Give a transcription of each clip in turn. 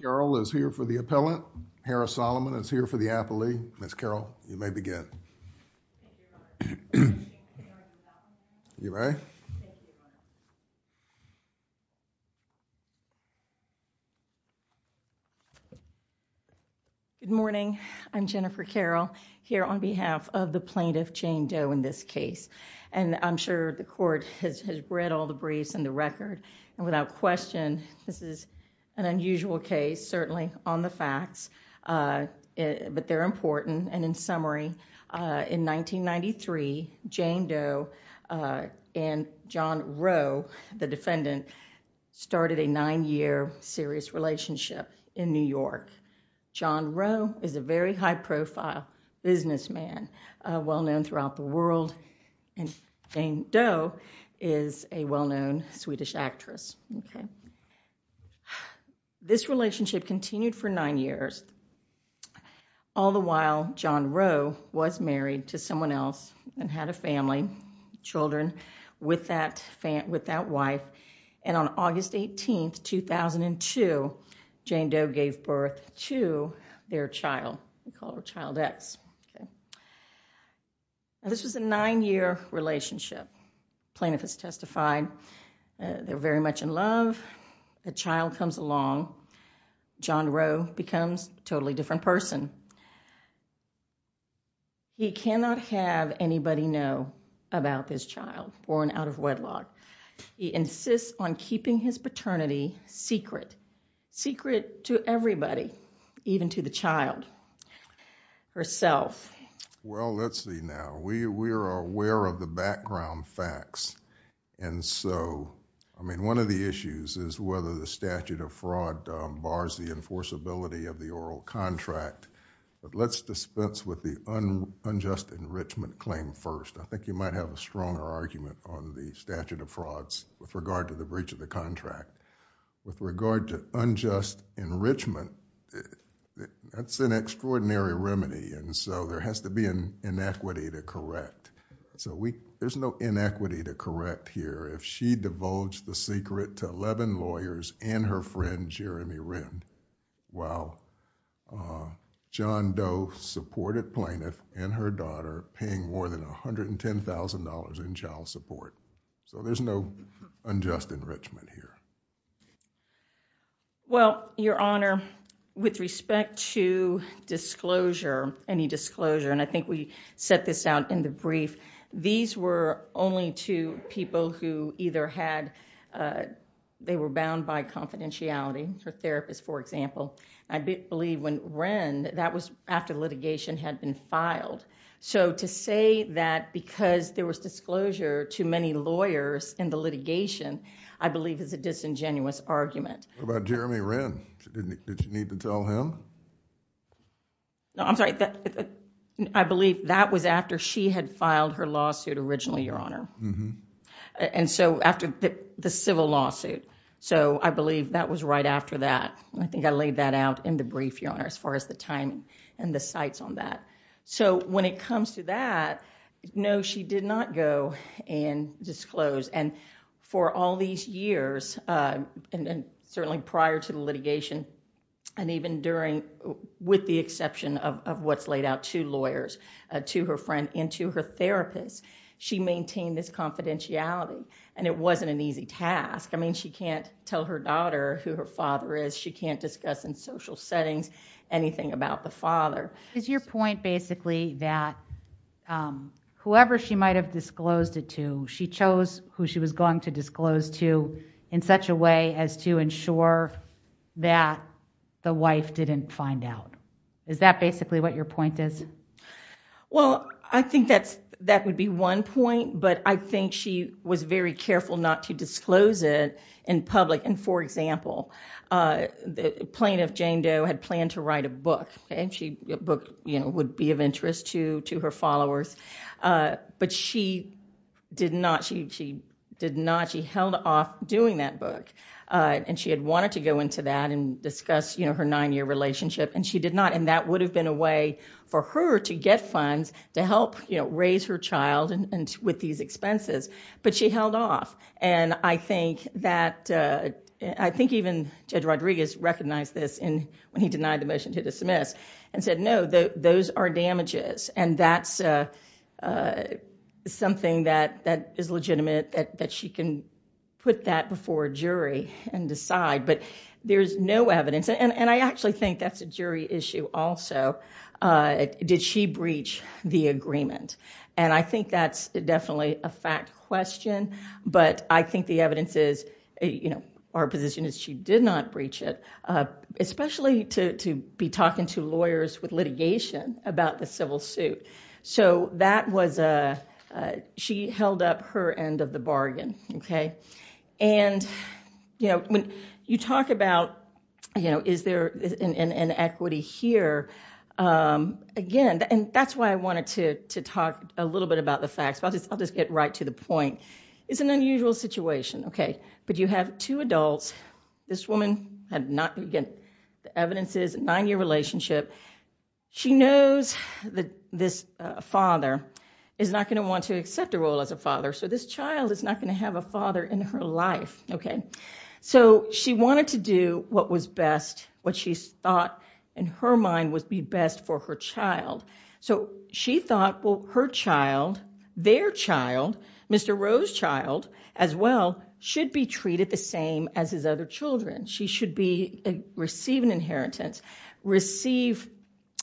Carol is here for the appellant, Harris-Solomon is here for the appellee. Ms. Carol, you may begin. Good morning, I'm Jennifer Carol here on behalf of the plaintiff Jane Doe in this case and I'm sure the court has read all the briefs and the record and without question this is an unusual case certainly on the facts but they're important and in summary in 1993 Jane Doe and John Roe the defendant started a nine-year serious relationship in New York. John Roe is a very high profile businessman well known throughout the world and Jane Doe is a well-known Swedish actress. This relationship continued for nine years all the while John Roe was married to someone else and had a family, children with that wife and on August 18, 2002 Jane Doe gave birth to their child, we call her Child X. This was a nine-year relationship, plaintiff has testified they're very much in love, the child comes along, John Roe becomes a totally different person. He cannot have anybody know about this child born out of wedlock, he insists on keeping his secret to everybody even to the child herself. Well, let's see now, we are aware of the background facts and so I mean one of the issues is whether the statute of fraud bars the enforceability of the oral contract but let's dispense with the unjust enrichment claim first. I think you might have a stronger argument on the statute of frauds with regard to the breach of the contract. With regard to unjust enrichment, that's an extraordinary remedy and so there has to be an inequity to correct. There's no inequity to correct here if she divulged the secret to 11 lawyers and her friend Jeremy Rind while John Doe supported plaintiff and her daughter paying more than $110,000 in child support. So there's no unjust enrichment here. Well, your honor, with respect to disclosure, any disclosure and I think we set this out in the brief, these were only to people who either had, they were bound by confidentiality for therapists for example. I believe when Rind, that was after litigation had been filed. So to say that because there was disclosure to many lawyers in the litigation, I believe is a disingenuous argument. What about Jeremy Rind? Did you need to tell him? No, I'm sorry. I believe that was after she had filed her lawsuit originally, your honor. And so after the civil lawsuit. So I believe that was right after that. I think I laid that out in the brief, your honor, as far as the timing and the sites on that. So when it comes to that, no, she did not go and disclose. And for all these years, and certainly prior to the litigation and even during, with the exception of what's laid out to lawyers, to her friend and to her therapist, she maintained this confidentiality. And it wasn't an easy task. I mean, she can't her daughter who her father is. She can't discuss in social settings, anything about the father. Is your point basically that whoever she might've disclosed it to, she chose who she was going to disclose to in such a way as to ensure that the wife didn't find out? Is that basically what your point is? Well, I think that's, that would be one point, but I think she was very careful not to for example, the plaintiff Jane Doe had planned to write a book and she, a book would be of interest to her followers. But she did not, she held off doing that book. And she had wanted to go into that and discuss her nine-year relationship. And she did not. And that would have been a way for her to get funds to help raise her child and with these expenses, but she held off. And I think that, I think even Judge Rodriguez recognized this in, when he denied the motion to dismiss and said, no, those are damages. And that's something that is legitimate, that she can put that before a jury and decide, but there's no evidence. And I actually think that's a jury issue also. Did she breach the agreement? And I think that's definitely a fact question, but I think the evidence is, you know, our position is she did not breach it. Especially to be talking to lawyers with litigation about the civil suit. So that was a, she held up her end of the bargain. Okay. And, you know, when you talk about, you know, is there an inequity here? Again, and that's why I wanted to talk a little bit about the facts, but I'll just get right to the point. It's an unusual situation. Okay. But you have two adults. This woman had not, again, the evidence is a nine-year relationship. She knows that this father is not going to want to have a father in her life. Okay. So she wanted to do what was best, what she thought in her mind would be best for her child. So she thought, well, her child, their child, Mr. Rowe's child, as well, should be treated the same as his other children. She should be receiving inheritance, receive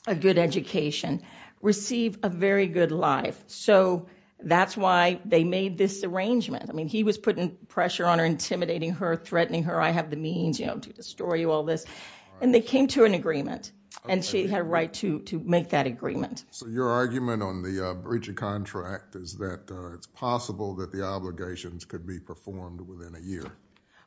a good education, receive a very good life. So that's why they made this arrangement. I mean, he was putting pressure on her, intimidating her, threatening her, I have the means, you know, to destroy you, all this. And they came to an agreement and she had a right to make that agreement. So your argument on the breaching contract is that it's possible that the obligations could be performed within a year?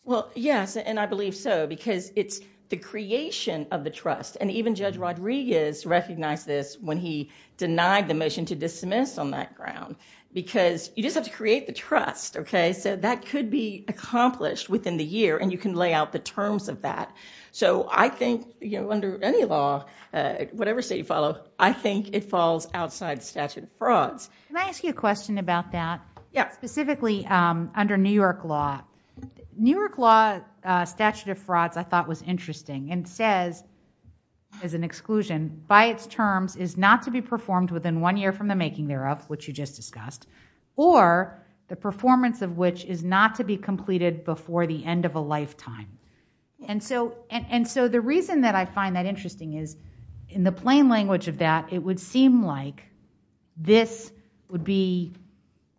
Well, yes, and I believe so, because it's the creation of the trust. And even Judge Rodriguez recognized this when he denied the obligation to dismiss on that ground, because you just have to create the trust, okay? So that could be accomplished within the year and you can lay out the terms of that. So I think, you know, under any law, whatever state you follow, I think it falls outside the statute of frauds. Can I ask you a question about that? Yeah. Specifically, under New York law, New York law statute of frauds, I thought was interesting and says, as an exclusion, by its terms is not to be performed within one year from the making thereof, which you just discussed, or the performance of which is not to be completed before the end of a lifetime. And so the reason that I find that interesting is, in the plain language of that, it would seem like this would be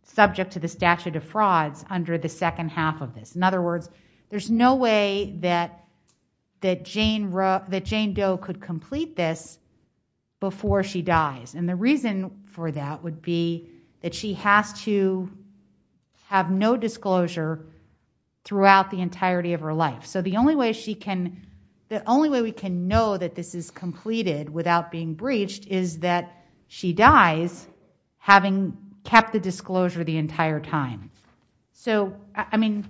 subject to the statute of frauds under the second half of this. In other words, there's no way that Jane Doe could complete this before she dies. And the reason for that would be that she has to have no disclosure throughout the entirety of her life. So the only way we can know that this is completed without being breached is that she dies, having kept the disclosure the entire time. So, I mean,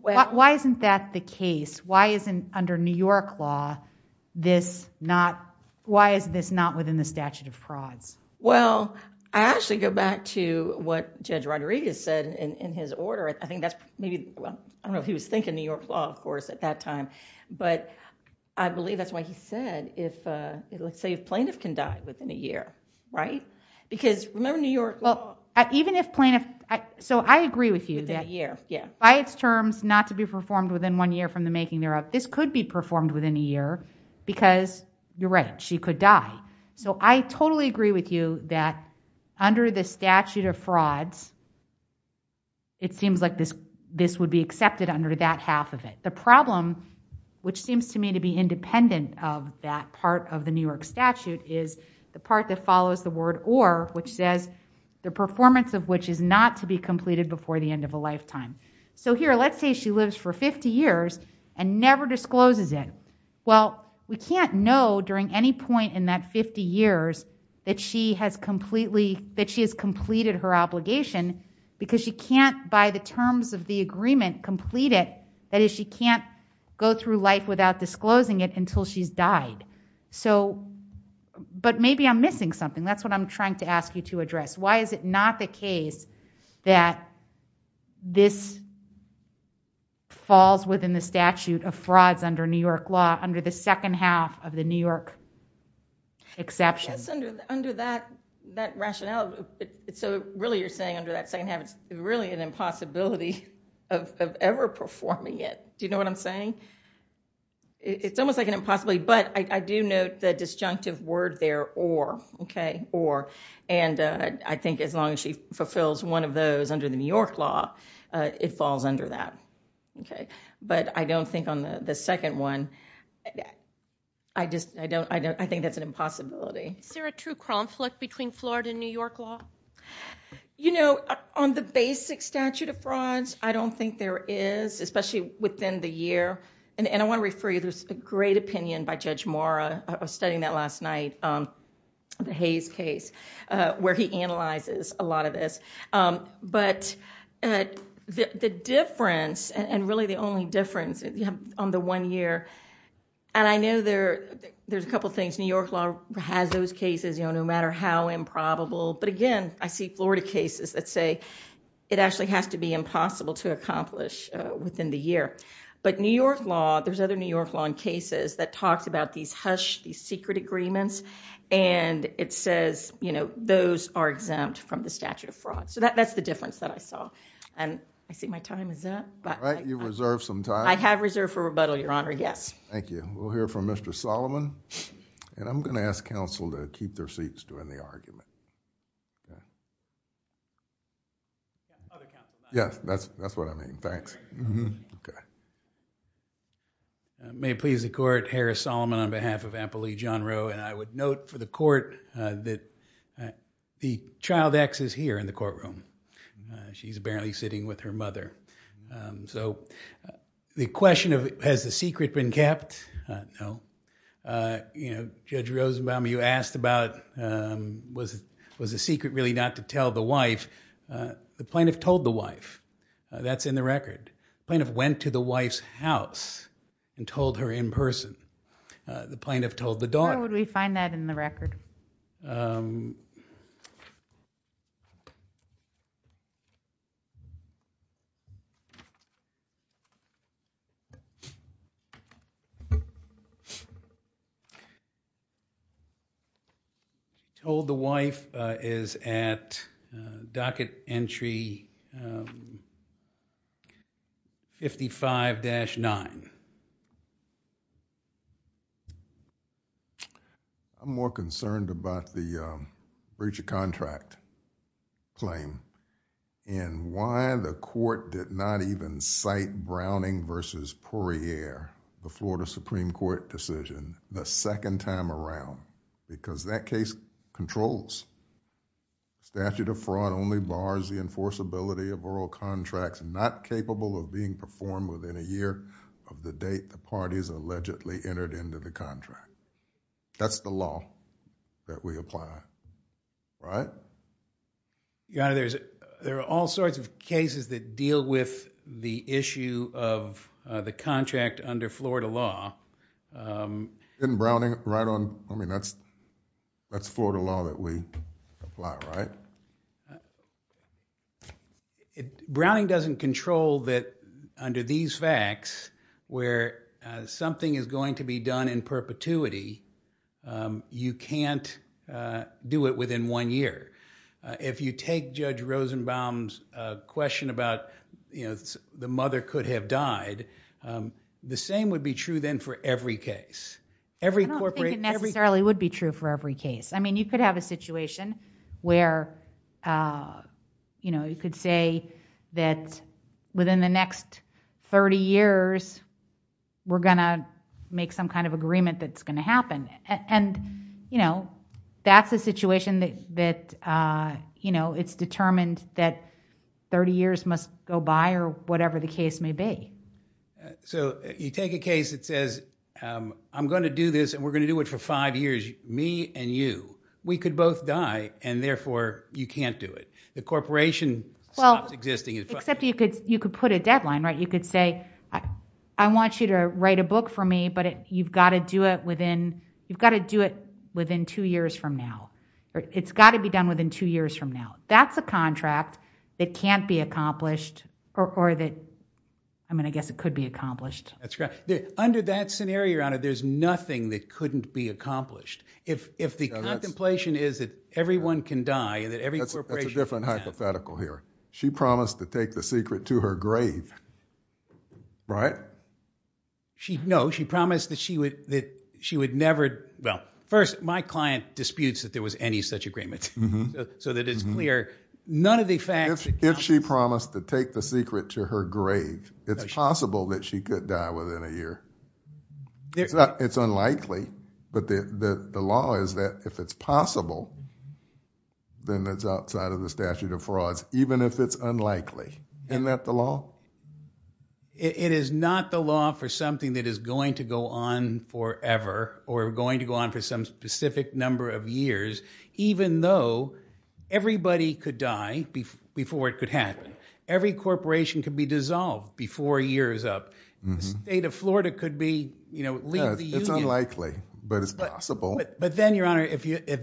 why isn't that the case? Why isn't under New York law, this not, why is this not within the statute of frauds? Well, I actually go back to what Judge Rodriguez said in his order. I think that's maybe, well, I don't know if he was thinking New York law, of course, at that time. But I believe that's can die within a year, right? Because remember New York law. Well, even if plaintiff, so I agree with you that year by its terms not to be performed within one year from the making thereof, this could be performed within a year because you're right, she could die. So I totally agree with you that under the statute of frauds, it seems like this would be accepted under that half of it. The problem, which seems to me to be independent of that part of the New York statute, is the part that follows the word or, which says the performance of which is not to be completed before the end of a lifetime. So here, let's say she lives for 50 years and never discloses it. Well, we can't know during any point in that 50 years that she has completely, that she has completed her obligation because she can't, by the terms of the agreement, complete it. That is, she can't go through life without disclosing it until she's died. So, but maybe I'm missing something. That's what I'm trying to ask you to address. Why is it not the case that this falls within the statute of frauds under New York law, under the second half of the New York exception? Yes, under that rationale. So really you're saying under that second half, it's really an Do you know what I'm saying? It's almost like an impossibility, but I do note the disjunctive word there, or, okay, or, and I think as long as she fulfills one of those under the New York law, it falls under that. Okay, but I don't think on the second one, I just, I don't, I don't, I think that's an impossibility. Is there a true conflict between Florida and New York law? You know, on the basic statute of frauds, I don't think there is, especially within the year, and I want to refer you, there's a great opinion by Judge Mora. I was studying that last night, the Hayes case, where he analyzes a lot of this. But the difference, and really the only difference on the one year, and I know there, there's a couple things. New York law has those cases, you know, no matter how improbable, but again, I see Florida cases that say it actually has to be impossible to accomplish within the year. But New York law, there's other New York law in cases that talks about these hush, these secret agreements, and it says, you know, those are exempt from the statute of fraud. So that, that's the difference that I saw, and I see my time is up. All right, you reserved some time. I have reserved for rebuttal, Your Honor, yes. Thank you. We'll hear from Mr. Solomon, and I'm going to ask counsel to keep their seats during the argument. Yes, that's, that's what I mean, thanks. Okay. May it please the court, Harris Solomon on behalf of Appalachian Row, and I would note for the court that the child ex is here in the courtroom. She's apparently sitting with her mother. So the question of, has the secret been kept? No. You know, Judge Rosenbaum, you asked about, was it, was the secret really not to tell the wife? The plaintiff told the wife. That's in the record. Plaintiff went to the wife's house and told her in person. The plaintiff told the wife. That's in the record. the breach of contract claim, and why the court did not even cite Browning versus Poirier, the Florida Supreme Court decision, the second time around, because that case controls. Statute of fraud only bars the enforceability of oral contracts not capable of being performed within a year of the date the parties allegedly entered into the contract. That's the law. That we apply, right? Your Honor, there's, there are all sorts of cases that deal with the issue of the contract under Florida law. Isn't Browning right on, I mean, that's, that's Florida law that we apply, right? Browning doesn't control that under these facts, where something is going to be done in perpetuity, you can't do it within one year. If you take Judge Rosenbaum's question about, you know, the mother could have died, the same would be true then for every case. I don't think it necessarily would be true for every case. I mean, you could have a situation where, you know, you could say that within the next 30 years, we're going to make some agreement that's going to happen. And, you know, that's a situation that, that, you know, it's determined that 30 years must go by, or whatever the case may be. So you take a case that says, I'm going to do this, and we're going to do it for five years, me and you, we could both die, and therefore you can't do it. The corporation stops existing. Except you could, you could put a deadline, right? You could say, I want you to write a book for me, but you've got to do it within, you've got to do it within two years from now. It's got to be done within two years from now. That's a contract that can't be accomplished, or that, I mean, I guess it could be accomplished. That's correct. Under that scenario, your honor, there's nothing that couldn't be accomplished. If, if the contemplation is that everyone can die, and that every corporation can die. That's a different hypothetical here. She promised to take the secret to her grave, right? She, no, she promised that she would, that she would never, well, first, my client disputes that there was any such agreement, so that it's clear, none of the facts. If she promised to take the secret to her grave, it's possible that she could die within a year. It's not, it's unlikely, but the, the law is that if it's possible, then it's outside of the statute of frauds, even if it's unlikely. Isn't that the law? It is not the law for something that is going to go on forever, or going to go on for some specific number of years, even though everybody could die before it could happen. Every corporation could be dissolved before a year is up. The state of if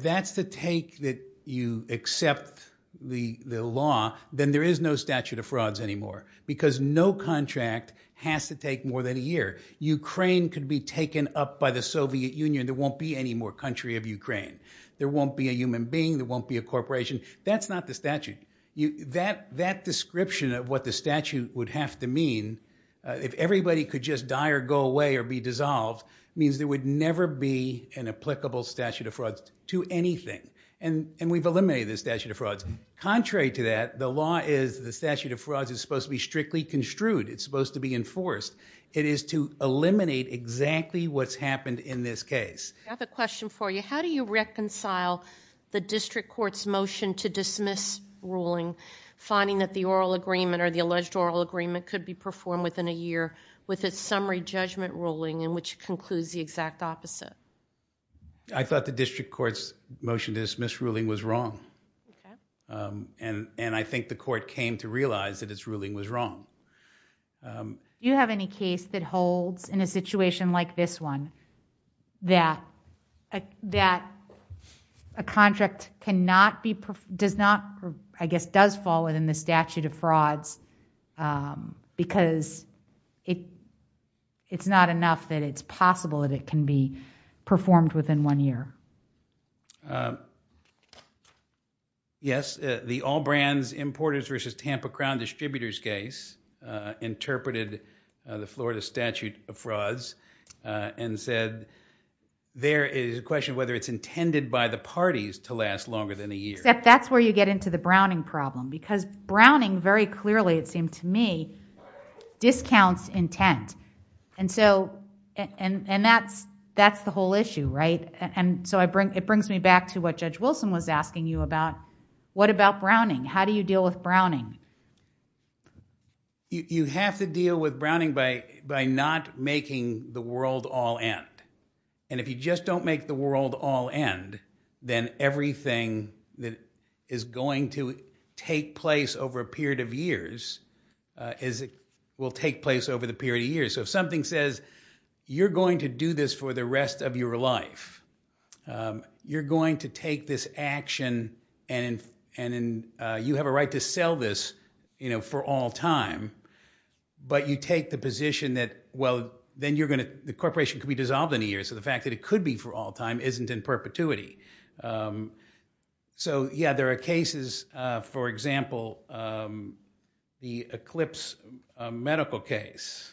that's the take that you accept the, the law, then there is no statute of frauds anymore, because no contract has to take more than a year. Ukraine could be taken up by the Soviet Union. There won't be any more country of Ukraine. There won't be a human being. There won't be a corporation. That's not the statute. You, that, that description of what the statute would have to mean, if everybody could just die or go away, or be dissolved, means there would never be an to anything. And, and we've eliminated the statute of frauds. Contrary to that, the law is the statute of frauds is supposed to be strictly construed. It's supposed to be enforced. It is to eliminate exactly what's happened in this case. I have a question for you. How do you reconcile the district court's motion to dismiss ruling, finding that the oral agreement or the alleged oral agreement could be performed within a year with a summary judgment ruling in which it concludes the exact opposite? I thought the district court's motion to dismiss ruling was wrong. And, and I think the court came to realize that it's ruling was wrong. Do you have any case that holds in a situation like this one, that, that a contract cannot be, does not, I guess, does fall within the statute of frauds, because it, it's not enough that it's possible that it can be performed within one year? Yes. The All Brands Importers versus Tampa Crown Distributors case interpreted the Florida statute of frauds and said there is a question of whether it's intended by the parties to last longer than a year. Except that's where you get into the Browning problem, because Browning very clearly, it seemed to me, discounts intent. And so, and, and that's, that's the whole issue, right? And so I bring, it brings me back to what Judge Wilson was asking you about. What about Browning? How do you deal with Browning? You, you have to deal with Browning by, by not making the world all end. And if you just don't make the world all end, then everything that is going to take place over a period of years is, will take place over the period of years. So if something says, you're going to do this for the rest of your life, you're going to take this action and, and you have a right to sell this, you know, for all time, but you take the position that, well, then you're going to, the corporation could be dissolved in a year. So the fact that it could be for all time isn't in perpetuity. So yeah, there are cases, for example, the Eclipse medical case.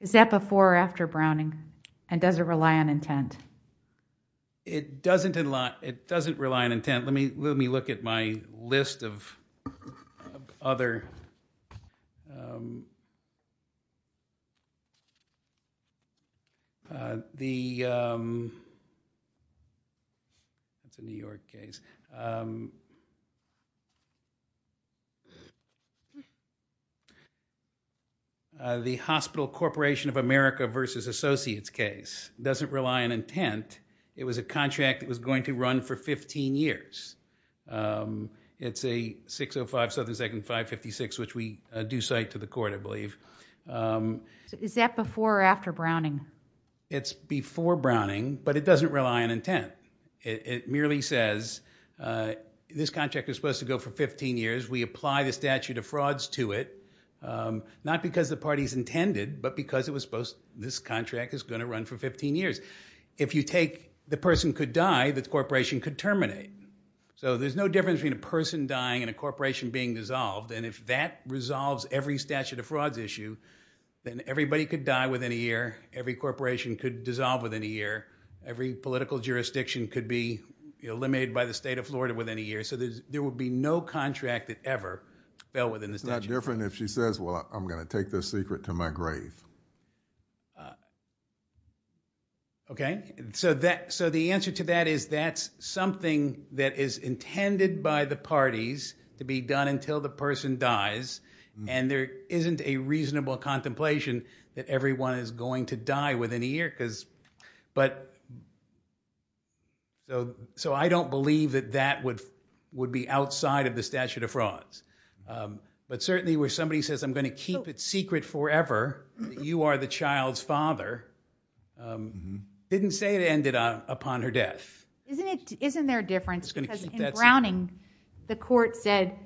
Is that before or after Browning? And does it rely on intent? It doesn't rely, it doesn't rely on intent. Let me, let me look at my list of other, uh, the, um, that's a New York case, um, uh, the hospital corporation of America versus associates case doesn't rely on intent. It was a contract that was going to run for 15 years. Um, it's a 605 Southern Second 556, which we do cite to the court, I believe. Um, Is that before or after Browning? It's before Browning, but it doesn't rely on intent. It merely says, uh, this contract is to go for 15 years. We apply the statute of frauds to it. Um, not because the party's intended, but because it was supposed this contract is going to run for 15 years. If you take the person could die, the corporation could terminate. So there's no difference between a person dying and a corporation being dissolved. And if that resolves every statute of frauds issue, then everybody could die within a year. Every corporation could dissolve within a year. Every political jurisdiction could be eliminated by the state of Florida within a year. So there would be no contract that ever fell within the statute of frauds. It's not different if she says, well, I'm going to take this secret to my grave. Okay. So that, so the answer to that is that's something that is intended by the parties to be done until the person dies. And there isn't a reasonable contemplation that everyone is going to die within a year because, but so, so I don't believe that that would, would be outside of the statute of frauds. Um, but certainly where somebody says, I'm going to keep it secret forever. You are the child's father. Um, didn't say it ended up upon her death. Isn't it, isn't there a difference because in Browning, the court said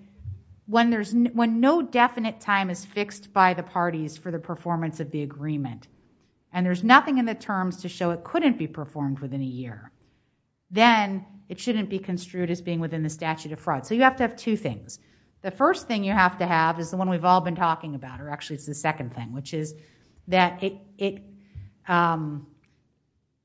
when there's, when no definite time is fixed by the parties for the performance of the agreement, and there's nothing in the terms to show it couldn't be performed within a year, then it shouldn't be construed as being within the statute of fraud. So you have to have two things. The first thing you have to have is the one we've all been talking about, or actually it's the second thing, which is that it, it, um,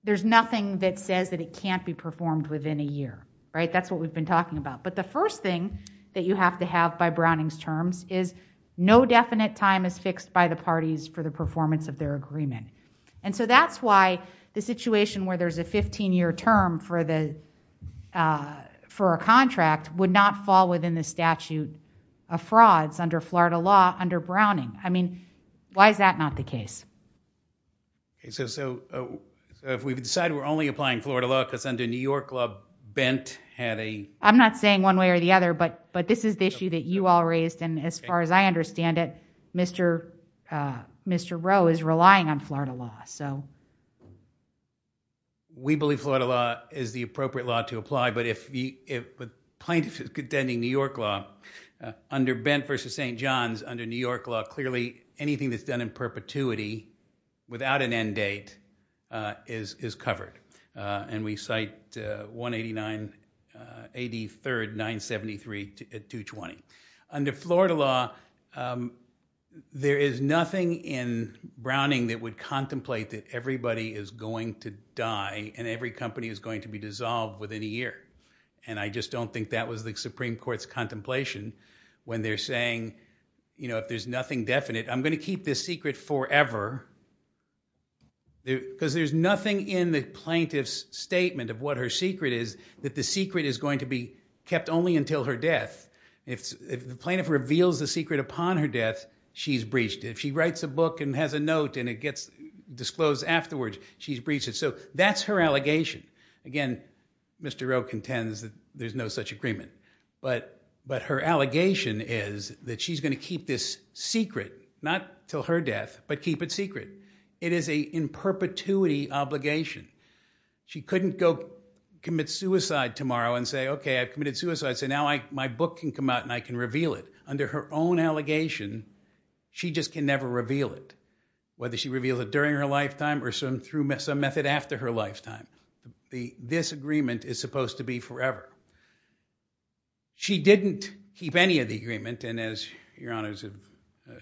there's nothing that says that it can't be performed within a year, right? That's what we've been talking about. But the first thing that you have to have by Browning's terms is no definite time is fixed by the parties for the performance of their agreement. And so that's why the situation where there's a 15 year term for the, uh, for a contract would not fall within the statute of frauds under Florida law under Browning. I mean, why is that not the case? Okay. So, so, uh, so if we've decided we're only applying Florida law because under New York law, Bent had a, I'm not saying one way or the other, but, but this is the issue that you all raised. And as far as I understand it, Mr. Uh, Mr. Rowe is relying on Florida law. So we believe Florida law is the appropriate law to apply. But if we, if plaintiff is contending New York law, uh, under Ben versus St. John's under New York law, clearly anything that's done in perpetuity without an end date, uh, is, is covered. Uh, and we cite, uh, 189, uh, CD third, nine 73 to 220 under Florida law. Um, there is nothing in Browning that would contemplate that everybody is going to die and every company is going to be dissolved within a year. And I just don't think that was the Supreme Court's contemplation when they're saying, you know, if there's nothing definite, I'm going to keep this secret forever because there's nothing in the plaintiff's statement of what her secret is that the secret is going to be kept only until her death. If the plaintiff reveals the secret upon her death, she's breached. If she writes a book and has a note and it gets disclosed afterwards, she's breached it. So that's her allegation. Again, Mr. Rowe contends that there's no such agreement, but, but her allegation is that she's going to keep this secret, not till her death, but keep it secret. It is a in perpetuity obligation. She couldn't go commit suicide tomorrow and say, okay, I've committed suicide. So now I, my book can come out and I can reveal it under her own allegation. She just can never reveal it, whether she reveals it during her lifetime or some through some method after her lifetime. The, this agreement is supposed to be forever. She didn't keep any of the agreement. And as your honors have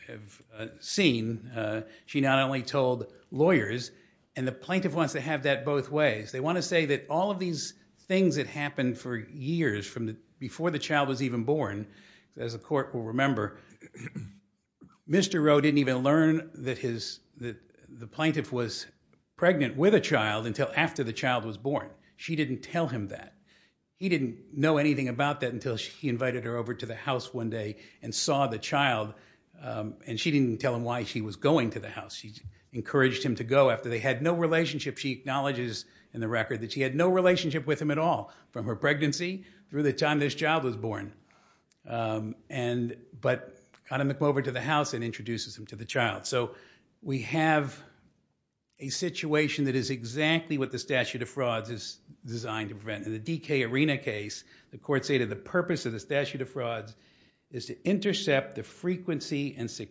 have seen, uh, she not only told lawyers and the plaintiff wants to have that both ways. They want to say that all of these things that happened for years from the, before the child was even born, as a court will remember, Mr. Rowe didn't even learn that his, that the plaintiff was pregnant with a child until after the child was born. She didn't tell him that he didn't know anything about that until she invited her over to the house one day and saw the child. Um, and she didn't tell him why she was going to the house. She encouraged him to go after they had no relationship. She acknowledges in the record that she had no relationship with him at all from her pregnancy through the time this child was born. Um, and, but kind of come over to the house and introduces him to the child. So we have a situation that is exactly what the statute of frauds is designed to prevent. In the DK Arena case, the court stated the purpose of the statute of frauds is to intercept the frequency and the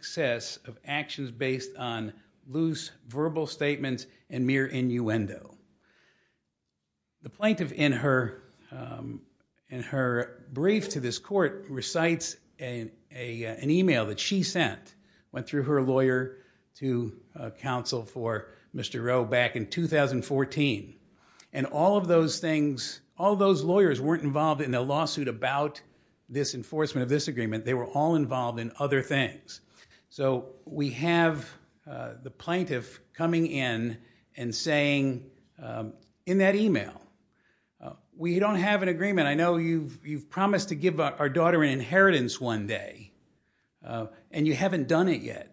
plaintiff in her, um, in her brief to this court recites an email that she sent, went through her lawyer to counsel for Mr. Rowe back in 2014. And all of those things, all those lawyers weren't involved in the lawsuit about this enforcement of this agreement. They were all involved in other things. So we have, uh, the plaintiff coming in and saying, um, in that email, uh, we don't have an agreement. I know you've, you've promised to give our daughter an inheritance one day, uh, and you haven't done it yet.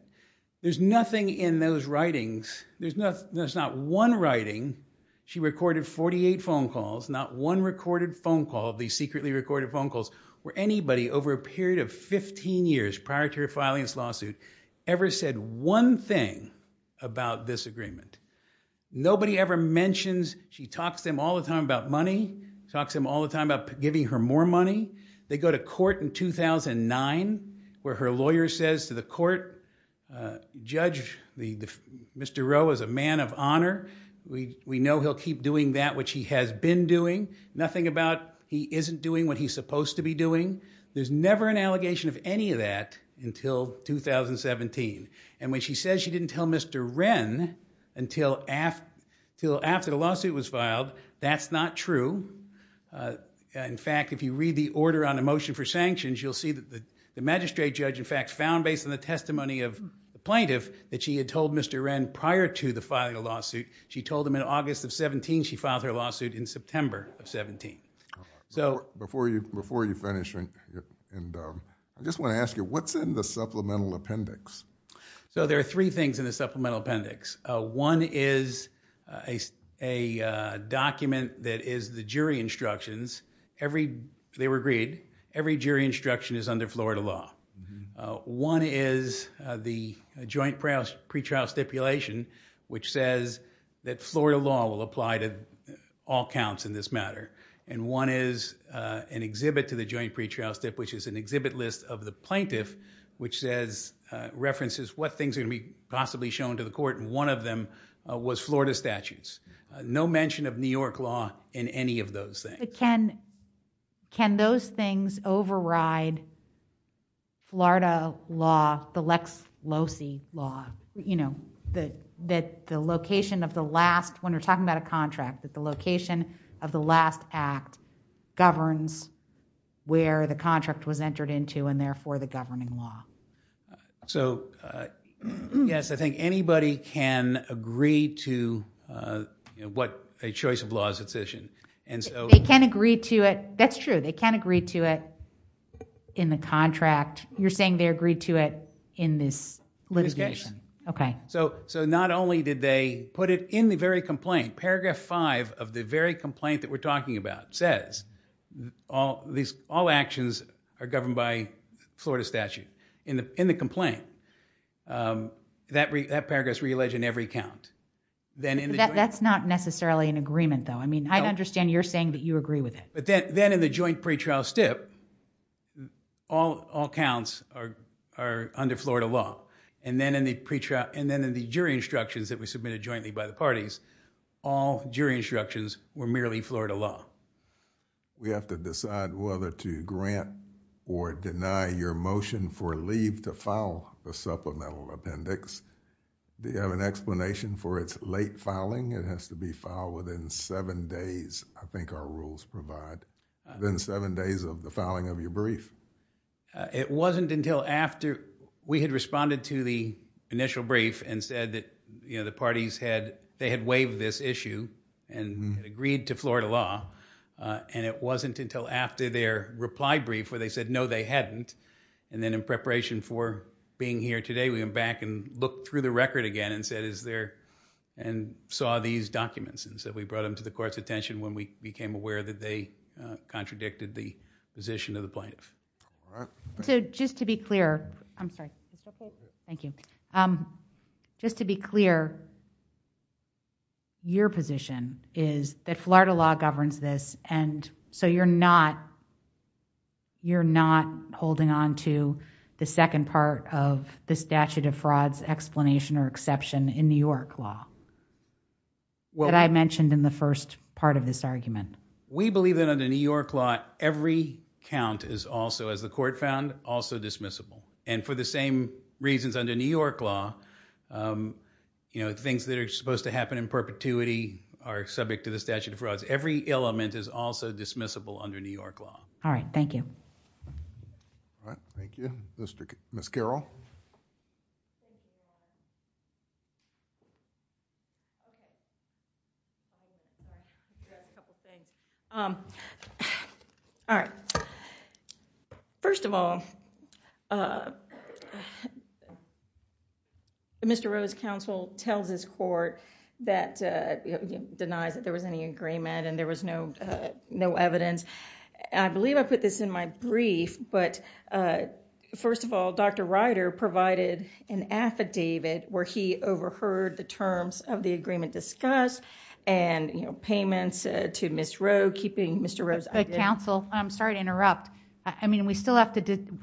There's nothing in those writings. There's not, there's not one writing. She recorded 48 phone calls, not one recorded phone call of these secretly recorded phone calls where anybody over a period of 15 years prior to filing this lawsuit ever said one thing about this agreement. Nobody ever mentions, she talks to him all the time about money, talks to him all the time about giving her more money. They go to court in 2009 where her lawyer says to the court, uh, judge, the, Mr. Rowe is a man of honor. We, we know he'll keep doing that, which he has been doing nothing about. He isn't doing what he's supposed to be doing. There's never an allegation of any of that until 2017. And when she says she didn't tell Mr. Wren until after the lawsuit was filed, that's not true. Uh, in fact, if you read the order on a motion for sanctions, you'll see that the magistrate judge, in fact, found based on the testimony of the plaintiff that she had told Mr. Wren prior to the filing she told him in August of 17, she filed her lawsuit in September of 17. So before you, before you finish and, and, um, I just want to ask you what's in the supplemental appendix. So there are three things in the supplemental appendix. Uh, one is a, a, uh, document that is the jury instructions. Every, they were agreed. Every jury instruction is under Florida law. Uh, one is, uh, the joint pre-trial stipulation, which says that Florida law will apply to all counts in this matter. And one is, uh, an exhibit to the joint pre-trial stip, which is an exhibit list of the plaintiff, which says, uh, references, what things are gonna be possibly shown to the court. And one of them was Florida statutes, uh, no mention of New York law in any of those things. Can, can those things override Florida law, the Lex Losey law, you know, that, that the location of the last, when we're talking about a contract, that the location of the last act governs where the contract was entered into and therefore the governing law. So, uh, yes, I think anybody can agree to, uh, you know, what a choice of law is a decision. And so they can agree to it. That's true. They can agree to it in the contract. You're saying they agreed to it in this litigation. Okay. So, so not only did they put it in the very complaint, paragraph five of the very complaint that we're talking about says all these, all actions are governed by Florida statute in the, in the complaint, um, that, that paragraph is realleged in every count. Then that's not necessarily an agreement though. I mean, I understand you're saying that you agree with it, but then, then in the joint pretrial step, all, all counts are, are under Florida law. And then in the pretrial, and then in the jury instructions that were submitted jointly by the parties, all jury instructions were merely Florida law. We have to decide whether to grant or deny your motion for leave to file a supplemental appendix. Do you have an explanation for its late filing? It has to be filed within seven days. I think our rules provide then seven days of the filing of your brief. Uh, it wasn't until after we had responded to the initial brief and said that, you know, the parties had, they had waived this issue and agreed to Florida law. Uh, it wasn't until after their reply brief where they said, no, they hadn't. And then in preparation for being here today, we went back and looked through the record again and said, is there, and saw these documents. And so we brought them to the court's attention when we became aware that they, uh, contradicted the position of the plaintiff. All right. So just to be clear, I'm sorry. Thank you. Um, just to be clear, your position is that Florida law governs this and so you're not, you're not holding onto the second part of the statute of frauds explanation or exception in New York law that I mentioned in the first part of this argument. We believe that under New York law, every count is also, as the court found, also dismissible. And for the same reasons under New York law, um, you know, things that are supposed to happen in also dismissible under New York law. All right. Thank you. All right. Thank you. Mr. Ms. Carol. All right. First of all, uh, Mr. Rose counsel tells his court that, uh, denies that there was any agreement and there was no, no evidence. I believe I put this in my brief, but, uh, first of all, Dr. Rider provided an affidavit where he overheard the terms of the agreement discussed and, you know, payments, uh, to Ms. Roe, keeping Mr. Rose counsel. I'm sorry to interrupt. I mean, we still have to do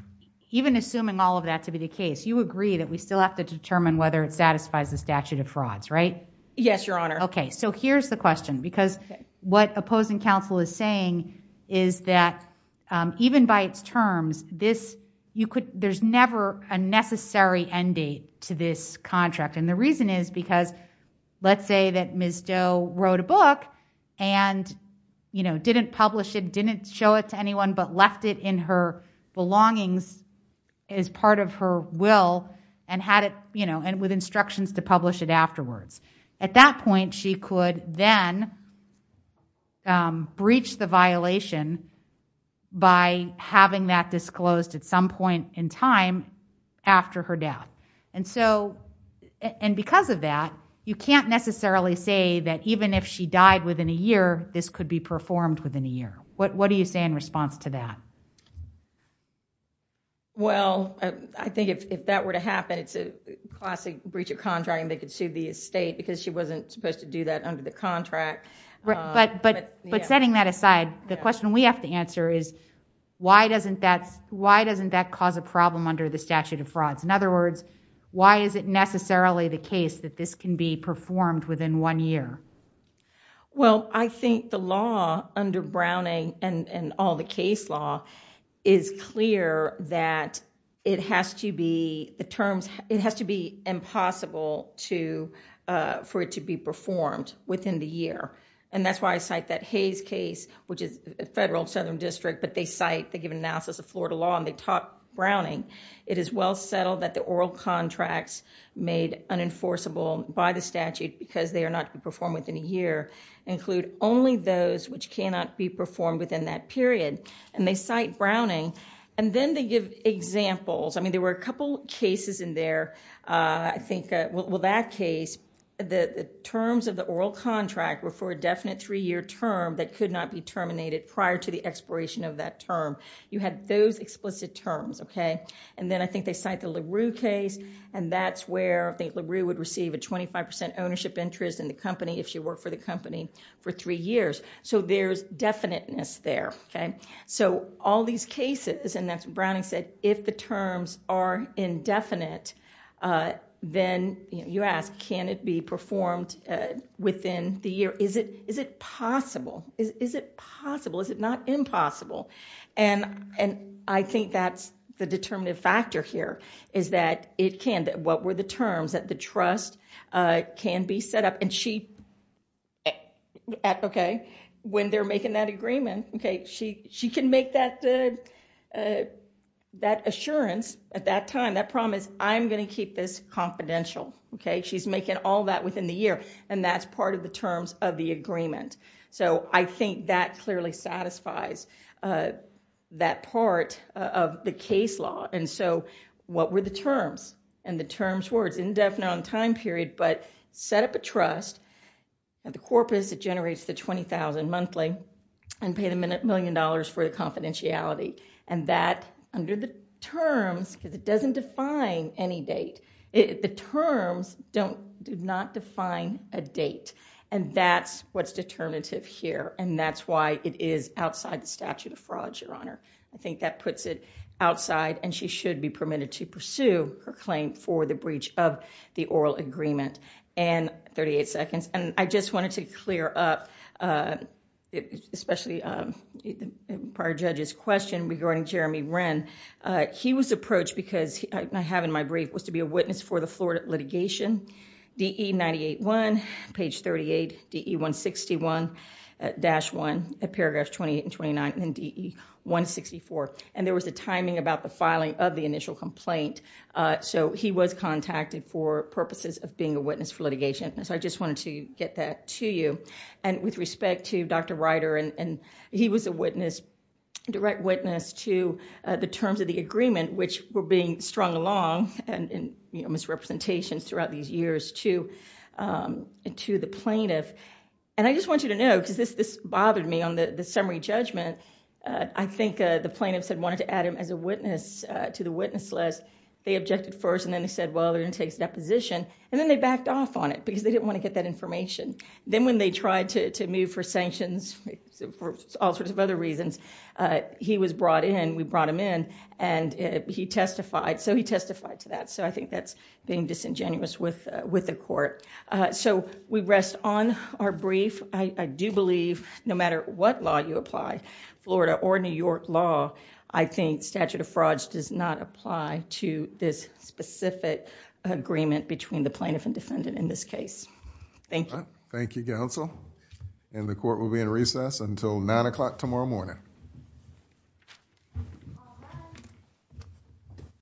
even assuming all of that to be the case, you agree that we still have to determine whether it satisfies the statute of frauds, right? Yes, your honor. Okay. So here's the question because what opposing counsel is saying is that, um, even by its terms, this, you could, there's never a necessary end date to this contract. And the reason is because let's say that Ms. Doe wrote a book and, you know, didn't publish it, didn't show it to anyone, but left it in her belongings as part of her will and had it, you know, and with instructions to then, um, breach the violation by having that disclosed at some point in time after her death. And so, and because of that, you can't necessarily say that even if she died within a year, this could be performed within a year. What, what do you say in response to that? Well, I think if that were to happen, it's a classic breach of contract and they could sue the estate because she wasn't supposed to do that under the contract. But, but, but setting that aside, the question we have to answer is why doesn't that, why doesn't that cause a problem under the statute of frauds? In other words, why is it necessarily the case that this can be performed within one year? Well, I think the law under Browning and all the case law is clear that it has to be, the terms, it has to be impossible to, uh, for it to be performed within the year. And that's why I cite that Hayes case, which is a federal Southern district, but they cite, they give an analysis of Florida law and they taught Browning. It is well settled that the oral contracts made unenforceable by the statute because they are to be performed within a year include only those which cannot be performed within that period. And they cite Browning. And then they give examples. I mean, there were a couple cases in there. Uh, I think, uh, well, that case, the terms of the oral contract were for a definite three year term that could not be terminated prior to the expiration of that term. You had those explicit terms. Okay. And then I think they cite the LaRue case and that's where I think LaRue would receive a 25% ownership interest in the company if she worked for the company for three years. So there's definiteness there. Okay. So all these cases, and that's what Browning said, if the terms are indefinite, uh, then you ask, can it be performed, uh, within the year? Is it, is it possible? Is it possible? Is it not impossible? And, and I think that's the trust, uh, can be set up and she, at, okay, when they're making that agreement, okay, she, she can make that, uh, uh, that assurance at that time. That promise, I'm going to keep this confidential. Okay. She's making all that within the year and that's part of the terms of the agreement. So I think that clearly satisfies, uh, that part of the case law. And so what were the but set up a trust at the corpus that generates the 20,000 monthly and pay them a million dollars for the confidentiality and that under the terms, because it doesn't define any date, it, the terms don't, do not define a date. And that's what's determinative here. And that's why it is outside the statute of fraud, your honor. I think that puts it outside and she should be and 38 seconds. And I just wanted to clear up, uh, especially, um, prior judge's question regarding Jeremy Wren. Uh, he was approached because I have in my brief was to be a witness for the Florida litigation, D E 98 one page 38 D E one 61 dash one at paragraph 28 and 29 and D E one 64. And there was a timing about the filing of the initial complaint. Uh, so he was contacted for purposes of being a witness for litigation. So I just wanted to get that to you and with respect to dr writer and he was a witness, direct witness to the terms of the agreement, which were being strung along and misrepresentations throughout these years to, um, to the plaintiff. And I just want you to know, cause this, this bothered me on the summary judgment. Uh, I think, uh, the plaintiffs had wanted to add him as a witness to the witness list. They objected first and then he said, well, they're gonna take that position and then they backed off on it because they didn't want to get that information. Then when they tried to move for sanctions for all sorts of other reasons, uh, he was brought in and we brought him in and he testified. So he testified to that. So I think that's being disingenuous with, with the court. Uh, so we rest on our brief. I do believe no matter what law you apply, florida or new york law, I think statute of frauds does not apply to this specific agreement between the plaintiff and defendant in this case. Thank you. Thank you. Council and the court will be in recess until nine o'clock tomorrow morning.